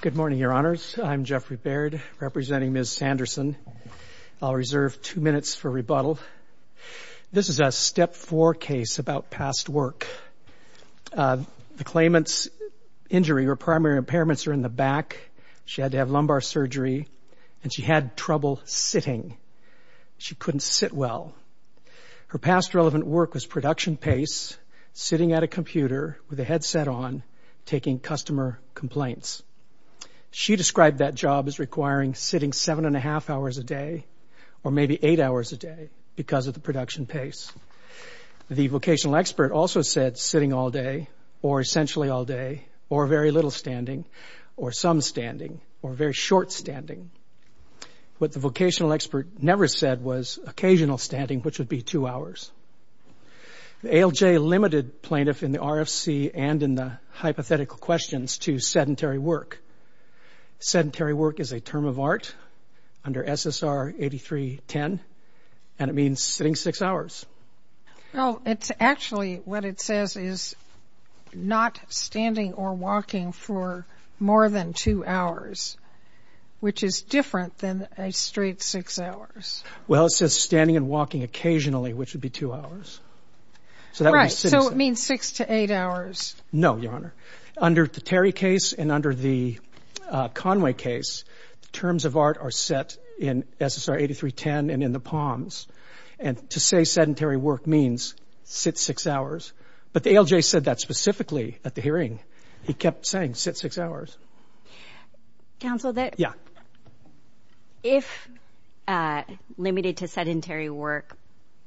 Good morning, Your Honors. I'm Jeffrey Baird, representing Ms. Sanderson. I'll reserve two minutes for rebuttal. This is a Step 4 case about past work. The claimant's injury or primary impairments are in the back, she had to have lumbar surgery, and she had trouble sitting. She couldn't sit well. Her past relevant work was production pace, sitting at a computer with a headset on, taking customer complaints. She described that job as requiring sitting seven and a half hours a day or maybe eight hours a day because of the production pace. The vocational expert also said sitting all day or essentially all day or very little standing or some standing or very short standing. What the vocational expert never said was occasional standing, which would be two hours. ALJ limited plaintiff in the RFC and in the hypothetical questions to sedentary work. Sedentary work is a term of art under SSR 8310, and it means sitting six hours. Well, it's actually what it says is not standing or walking for more than two hours, which is different than a straight six hours. Well, it says standing and walking occasionally, which would be two hours. Right, so it means six to eight hours. No, Your Honor. Under the Terry case and under the Conway case, terms of art are set in SSR 8310 and in the palms, and to say sedentary work means sit six hours. But the ALJ said that specifically at the hearing. He kept saying sit six hours. Counsel, if limited to sedentary work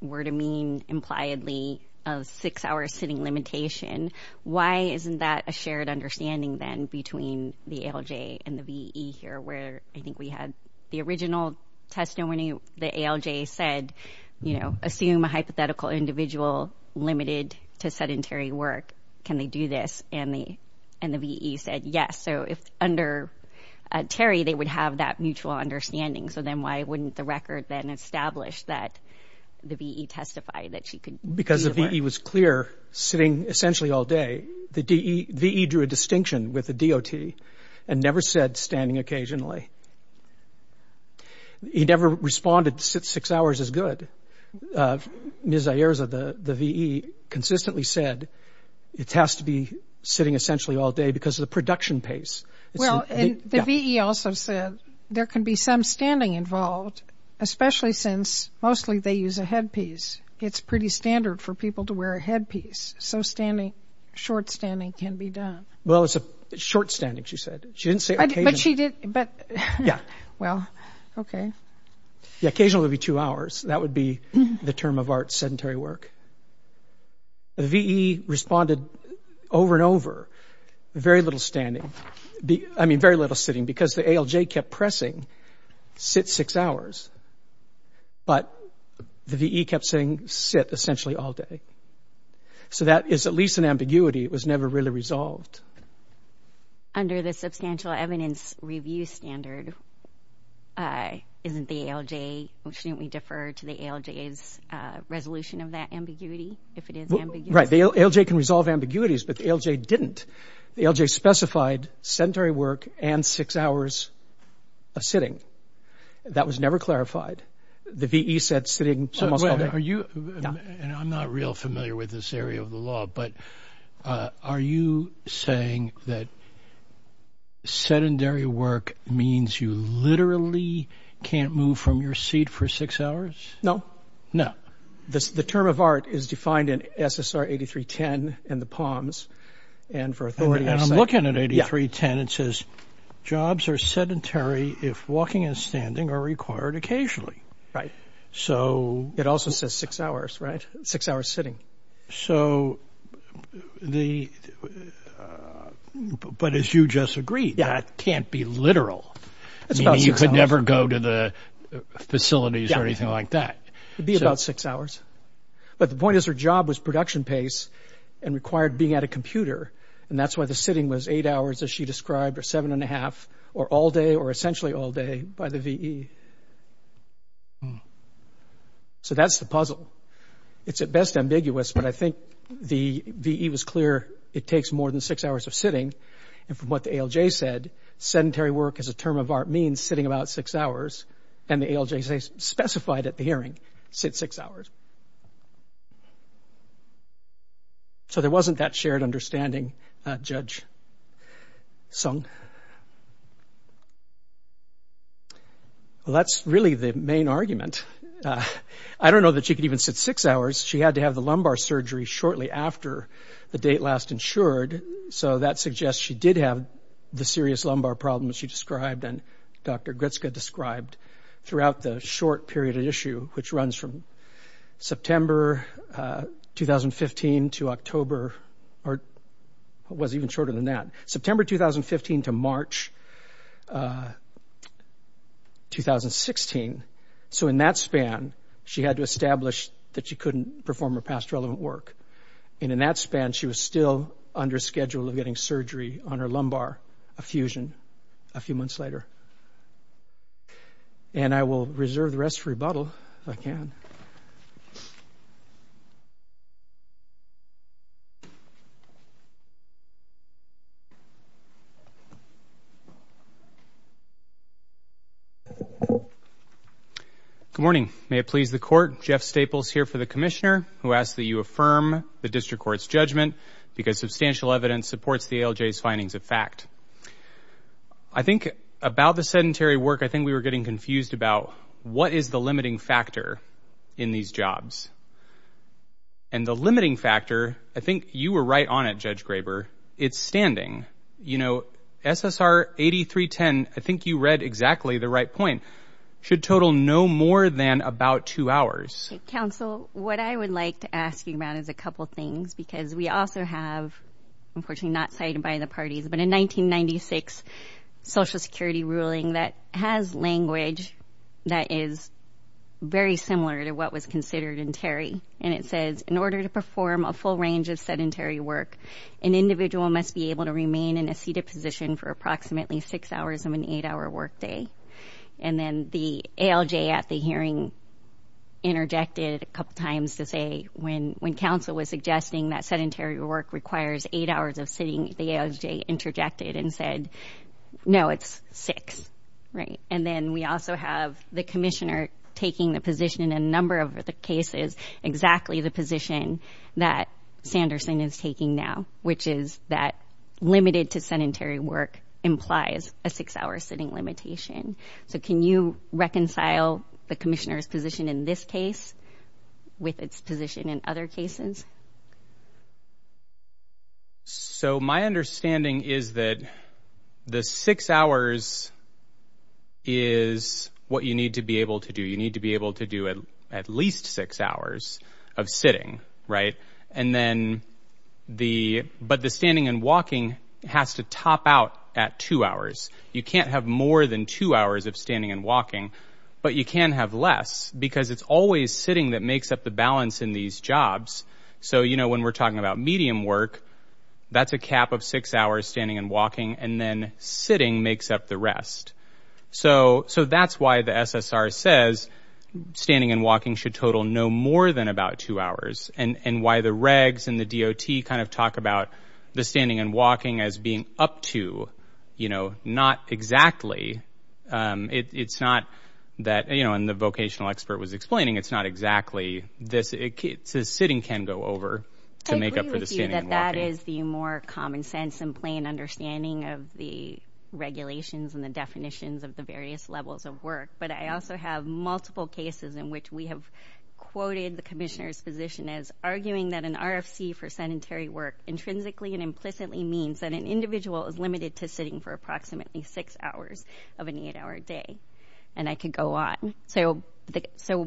were to mean impliedly of six hours sitting limitation, why isn't that a shared understanding then between the ALJ and the VE here where I think we had the original testimony? The ALJ said, you know, assume a hypothetical individual limited to sedentary work. Can they do this? And the VE said yes. So if under Terry they would have that mutual understanding, so then why wouldn't the record then establish that the VE testified that she could do it? Because the VE was clear sitting essentially all day. The VE drew a distinction with the DOT and never said standing occasionally. He never responded six hours is good. Ms. Ayerza, the VE, consistently said it has to be sitting essentially all day because of the production pace. Well, and the VE also said there can be some standing involved, especially since mostly they use a headpiece. It's pretty standard for people to wear a headpiece, so short standing can be done. Well, it's short standing, she said. She didn't say occasionally. But she did. Yeah. Well, okay. Yeah, occasional would be two hours. That would be the term of art, sedentary work. The VE responded over and over, very little standing. I mean, very little sitting because the ALJ kept pressing sit six hours, but the VE kept saying sit essentially all day. So that is at least an ambiguity. It was never really resolved. Under the substantial evidence review standard, isn't the ALJ, shouldn't we defer to the ALJ's resolution of that ambiguity if it is ambiguous? Right. The ALJ can resolve ambiguities, but the ALJ didn't. The ALJ specified sedentary work and six hours of sitting. That was never clarified. The VE said sitting almost all day. Are you, and I'm not real familiar with this area of the law, but are you saying that sedentary work means you literally can't move from your seat for six hours? No. No. The term of art is defined in SSR 8310 in the Palms and for authority. And I'm looking at 8310, it says, jobs are sedentary if walking and standing are required occasionally. Right. It also says six hours, right? Six hours sitting. But as you just agreed, that can't be literal. It's about six hours. You could never go to the facilities or anything like that. It would be about six hours. But the point is her job was production pace and required being at a computer, and that's why the sitting was eight hours, as she described, or all day or essentially all day by the VE. So that's the puzzle. It's at best ambiguous, but I think the VE was clear it takes more than six hours of sitting. And from what the ALJ said, sedentary work as a term of art means sitting about six hours, and the ALJ specified at the hearing, sit six hours. So there wasn't that shared understanding, Judge Sung. Well, that's really the main argument. I don't know that she could even sit six hours. She had to have the lumbar surgery shortly after the date last insured, so that suggests she did have the serious lumbar problem she described and Dr. Gritska described throughout the short period of issue, which runs from September 2015 to October, or it was even shorter than that, September 2015 to March 2016. So in that span, she had to establish that she couldn't perform her past relevant work. And in that span, she was still under schedule of getting surgery on her lumbar, a fusion, a few months later. And I will reserve the rest for rebuttal, if I can. Good morning. May it please the Court, Jeff Staples here for the Commissioner, who asks that you affirm the District Court's judgment because substantial evidence supports the ALJ's findings of fact. I think about the sedentary work, I think we were getting confused about what is the limiting factor in these jobs. And the limiting factor, I think you were right on it, Judge Graber, it's standing. You know, SSR 8310, I think you read exactly the right point, should total no more than about two hours. Counsel, what I would like to ask you about is a couple things because we also have, unfortunately not cited by the parties, but a 1996 Social Security ruling that has language that is very similar to what was considered in Terry. And it says, in order to perform a full range of sedentary work, an individual must be able to remain in a seated position for approximately six hours of an eight-hour work day. And then the ALJ at the hearing interjected a couple times to say, when counsel was suggesting that sedentary work requires eight hours of sitting, the ALJ interjected and said, no, it's six. And then we also have the commissioner taking the position in a number of the cases, exactly the position that Sanderson is taking now, which is that limited to sedentary work implies a six-hour sitting limitation. So can you reconcile the commissioner's position in this case with its position in other cases? So my understanding is that the six hours is what you need to be able to do. You need to be able to do at least six hours of sitting. But the standing and walking has to top out at two hours. You can't have more than two hours of standing and walking, but you can have less because it's always sitting that makes up the balance in these jobs. So, you know, when we're talking about medium work, that's a cap of six hours standing and walking, and then sitting makes up the rest. So that's why the SSR says standing and walking should total no more than about two hours and why the regs and the DOT kind of talk about the standing and walking as being up to, you know, not exactly. It's not that, you know, and the vocational expert was explaining, it's not exactly this. Sitting can go over to make up for the standing and walking. I agree with you that that is the more common sense and plain understanding of the regulations and the definitions of the various levels of work. But I also have multiple cases in which we have quoted the commissioner's position as arguing that an RFC for sedentary work intrinsically and implicitly means that an individual is limited to sitting for approximately six hours of an eight-hour day. And I could go on. So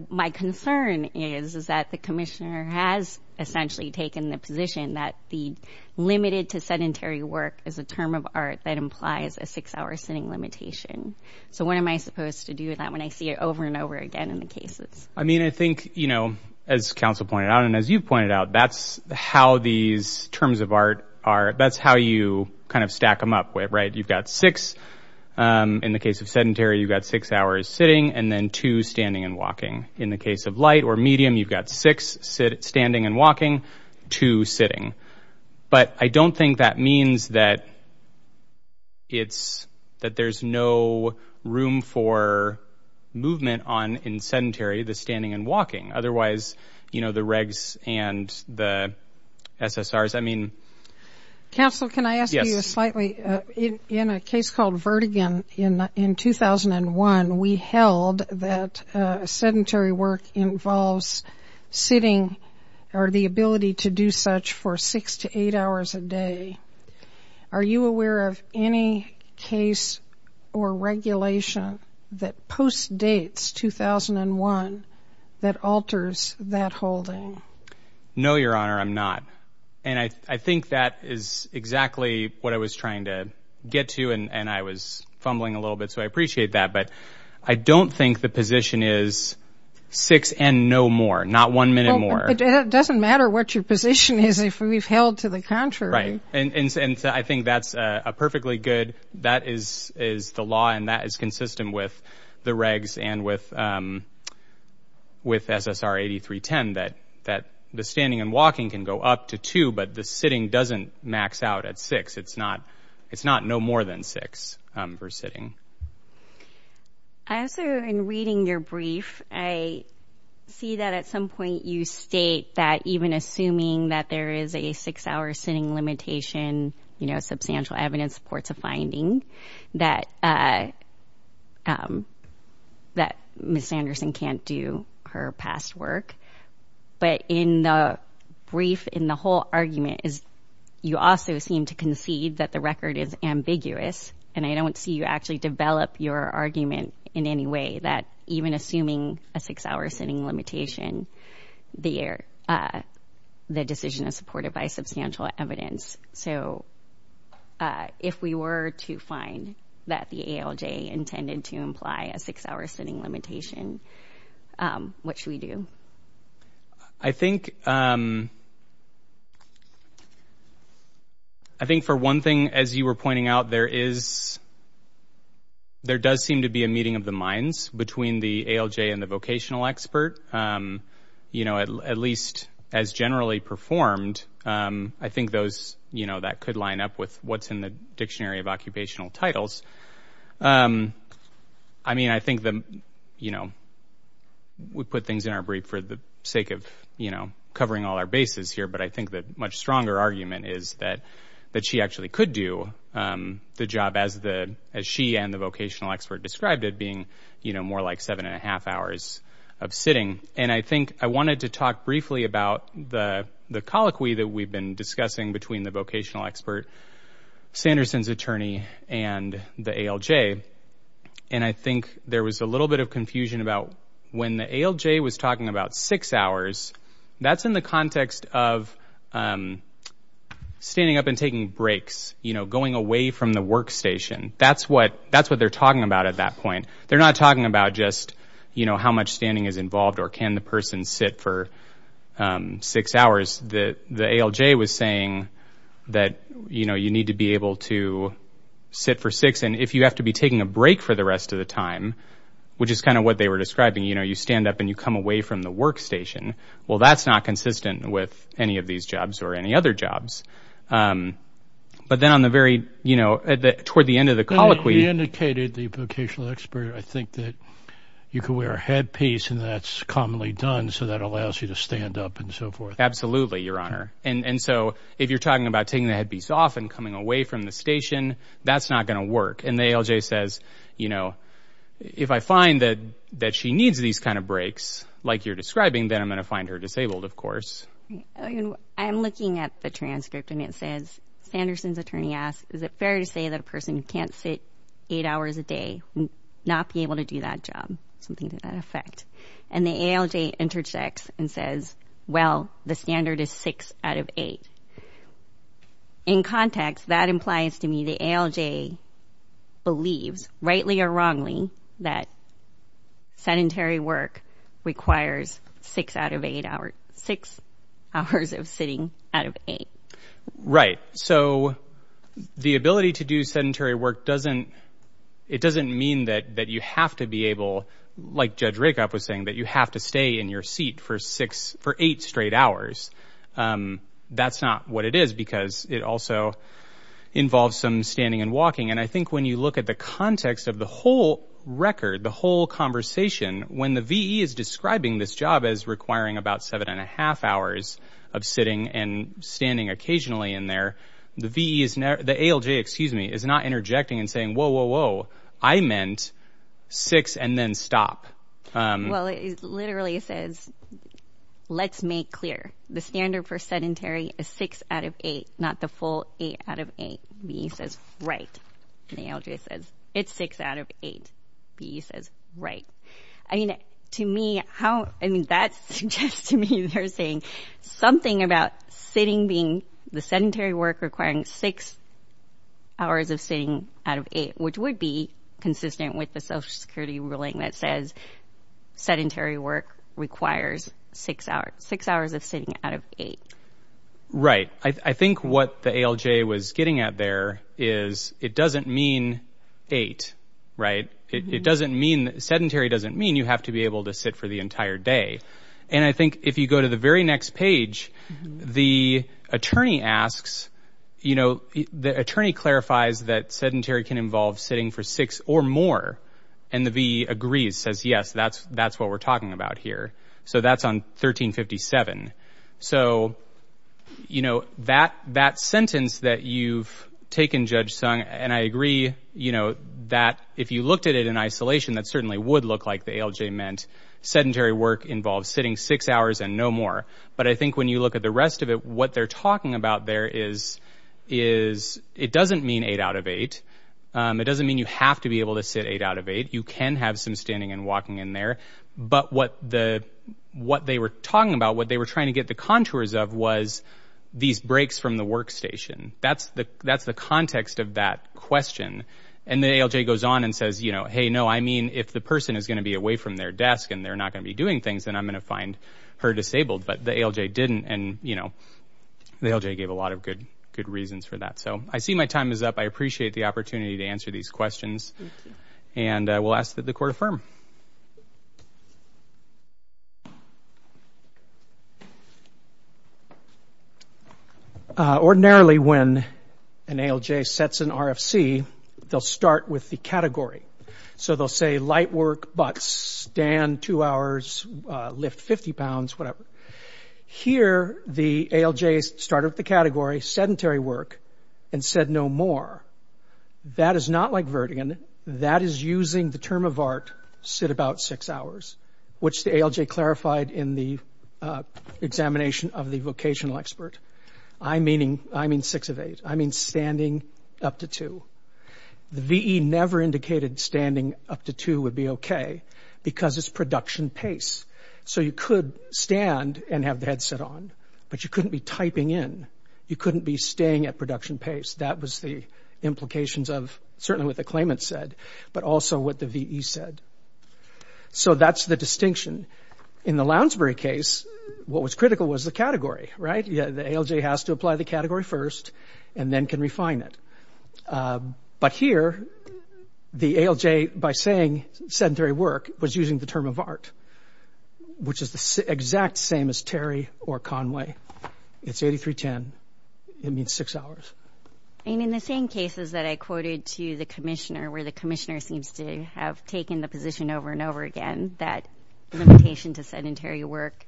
my concern is that the commissioner has essentially taken the position that the limited to sedentary work is a term of art that implies a six-hour sitting limitation. So what am I supposed to do with that when I see it over and over again in the cases? I mean, I think, you know, as counsel pointed out and as you pointed out, that's how these terms of art are. That's how you kind of stack them up, right? You've got six. In the case of sedentary, you've got six hours sitting and then two standing and walking. In the case of light or medium, you've got six standing and walking, two sitting. But I don't think that means that there's no room for movement in sedentary, the standing and walking. Otherwise, you know, the regs and the SSRs, I mean. Counsel, can I ask you slightly? In a case called Vertigan in 2001, we held that sedentary work involves sitting or the ability to do such for six to eight hours a day. Are you aware of any case or regulation that postdates 2001 that alters that holding? No, Your Honor, I'm not. And I think that is exactly what I was trying to get to and I was fumbling a little bit, so I appreciate that. But I don't think the position is six and no more, not one minute more. It doesn't matter what your position is if we've held to the contrary. Right. And I think that's a perfectly good, that is the law and that is consistent with the regs and with SSR 8310 that the standing and walking can go up to two, but the sitting doesn't max out at six. It's not no more than six for sitting. I also, in reading your brief, I see that at some point you state that even assuming that there is a six-hour sitting limitation, you know, substantial evidence supports a finding, that Ms. Sanderson can't do her past work. But in the brief, in the whole argument, you also seem to concede that the record is ambiguous, and I don't see you actually develop your argument in any way that even assuming a six-hour sitting limitation, the decision is supported by substantial evidence. So if we were to find that the ALJ intended to imply a six-hour sitting limitation, what should we do? I think for one thing, as you were pointing out, there is, there does seem to be a meeting of the minds between the ALJ and the vocational expert. You know, at least as generally performed, I think those, you know, that could line up with what's in the Dictionary of Occupational Titles. I mean, I think, you know, we put things in our brief for the sake of, you know, covering all our bases here, but I think the much stronger argument is that she actually could do the job as she and the vocational expert described it being, you know, more like seven and a half hours of sitting. And I think I wanted to talk briefly about the colloquy that we've been discussing between the vocational expert, Sanderson's attorney, and the ALJ. And I think there was a little bit of confusion about when the ALJ was talking about six hours, that's in the context of standing up and taking breaks, you know, going away from the workstation. That's what they're talking about at that point. They're not talking about just, you know, how much standing is involved or can the person sit for six hours. The ALJ was saying that, you know, you need to be able to sit for six, and if you have to be taking a break for the rest of the time, which is kind of what they were describing, you know, you stand up and you come away from the workstation. Well, that's not consistent with any of these jobs or any other jobs. But then on the very, you know, toward the end of the colloquy. You indicated the vocational expert, I think, that you could wear a headpiece, and that's commonly done so that allows you to stand up and so forth. Absolutely, Your Honor. And so if you're talking about taking the headpiece off and coming away from the station, that's not going to work. And the ALJ says, you know, if I find that she needs these kind of breaks, like you're describing, then I'm going to find her disabled, of course. I'm looking at the transcript, and it says, Sanderson's attorney asks, is it fair to say that a person who can't sit eight hours a day would not be able to do that job, something to that effect? And the ALJ interchecks and says, well, the standard is six out of eight. In context, that implies to me the ALJ believes, rightly or wrongly, that sedentary work requires six hours of sitting out of eight. Right, so the ability to do sedentary work doesn't mean that you have to be able, like Judge Rakoff was saying, that you have to stay in your seat for eight straight hours. That's not what it is because it also involves some standing and walking. And I think when you look at the context of the whole record, the whole conversation, when the VE is describing this job as requiring about seven and a half hours of sitting and standing occasionally in there, the ALJ is not interjecting and saying, whoa, whoa, whoa, I meant six and then stop. Well, it literally says, let's make clear, the standard for sedentary is six out of eight, not the full eight out of eight. VE says, right. And the ALJ says, it's six out of eight. VE says, right. I mean, to me, that suggests to me they're saying something about sitting being, the sedentary work requiring six hours of sitting out of eight, which would be consistent with the Social Security ruling that says sedentary work requires six hours of sitting out of eight. Right. I think what the ALJ was getting at there is it doesn't mean eight, right? It doesn't mean, sedentary doesn't mean you have to be able to sit for the entire day. And I think if you go to the very next page, the attorney asks, you know, the attorney clarifies that sedentary can involve sitting for six or more. And the VE agrees, says, yes, that's what we're talking about here. So that's on 1357. So, you know, that sentence that you've taken, Judge Sung, and I agree, you know, that if you looked at it in isolation, that certainly would look like the ALJ meant sedentary work involves sitting six hours and no more. But I think when you look at the rest of it, what they're talking about there is it doesn't mean eight out of eight. It doesn't mean you have to be able to sit eight out of eight. You can have some standing and walking in there. But what they were talking about, what they were trying to get the contours of, was these breaks from the workstation. That's the context of that question. And the ALJ goes on and says, you know, hey, no, I mean, if the person is going to be away from their desk and they're not going to be doing things, then I'm going to find her disabled. But the ALJ didn't, and, you know, the ALJ gave a lot of good reasons for that. So I see my time is up. I appreciate the opportunity to answer these questions. And we'll ask that the court affirm. Ordinarily when an ALJ sets an RFC, they'll start with the category. So they'll say light work, but stand two hours, lift 50 pounds, whatever. Here the ALJ started with the category sedentary work and said no more. That is not like Vertigo. That is using the term of art, sit about six hours, which the ALJ clarified in the examination of the vocational expert. I mean six of eight. I mean standing up to two. The VE never indicated standing up to two would be okay because it's production pace. So you could stand and have the headset on, but you couldn't be typing in. You couldn't be staying at production pace. That was the implications of certainly what the claimant said, but also what the VE said. So that's the distinction. In the Lounsbury case, what was critical was the category, right? The ALJ has to apply the category first and then can refine it. But here the ALJ, by saying sedentary work, was using the term of art, which is the exact same as Terry or Conway. It's 8310. It means six hours. And in the same cases that I quoted to the commissioner, where the commissioner seems to have taken the position over and over again that limitation to sedentary work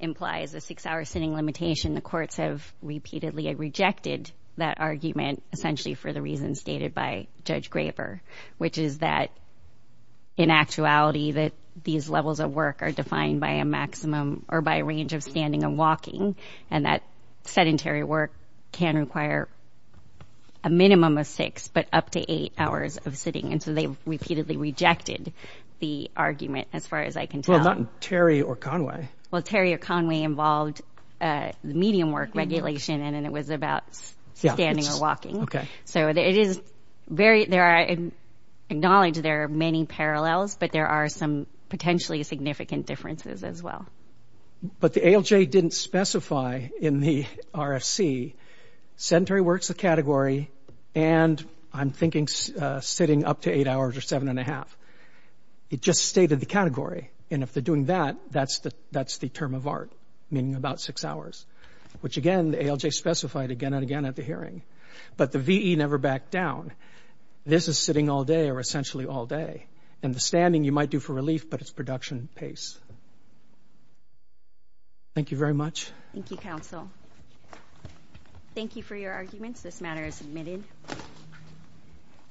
implies a six-hour sitting limitation, the courts have repeatedly rejected that argument, essentially for the reasons stated by Judge Graber, which is that in actuality these levels of work are defined by a maximum or by a range of standing and walking, and that sedentary work can require a minimum of six, but up to eight hours of sitting. And so they've repeatedly rejected the argument, as far as I can tell. Well, not in Terry or Conway. Well, Terry or Conway involved the medium work regulation, and then it was about standing or walking. Okay. So it is very, there are, I acknowledge there are many parallels, but there are some potentially significant differences as well. But the ALJ didn't specify in the RFC, sedentary work's a category, and I'm thinking sitting up to eight hours or seven and a half. It just stated the category. And if they're doing that, that's the term of art, meaning about six hours, which, again, the ALJ specified again and again at the hearing. But the VE never backed down. This is sitting all day or essentially all day. And the standing you might do for relief, but it's production pace. Thank you very much. Thank you, counsel. Thank you for your arguments. This matter is submitted.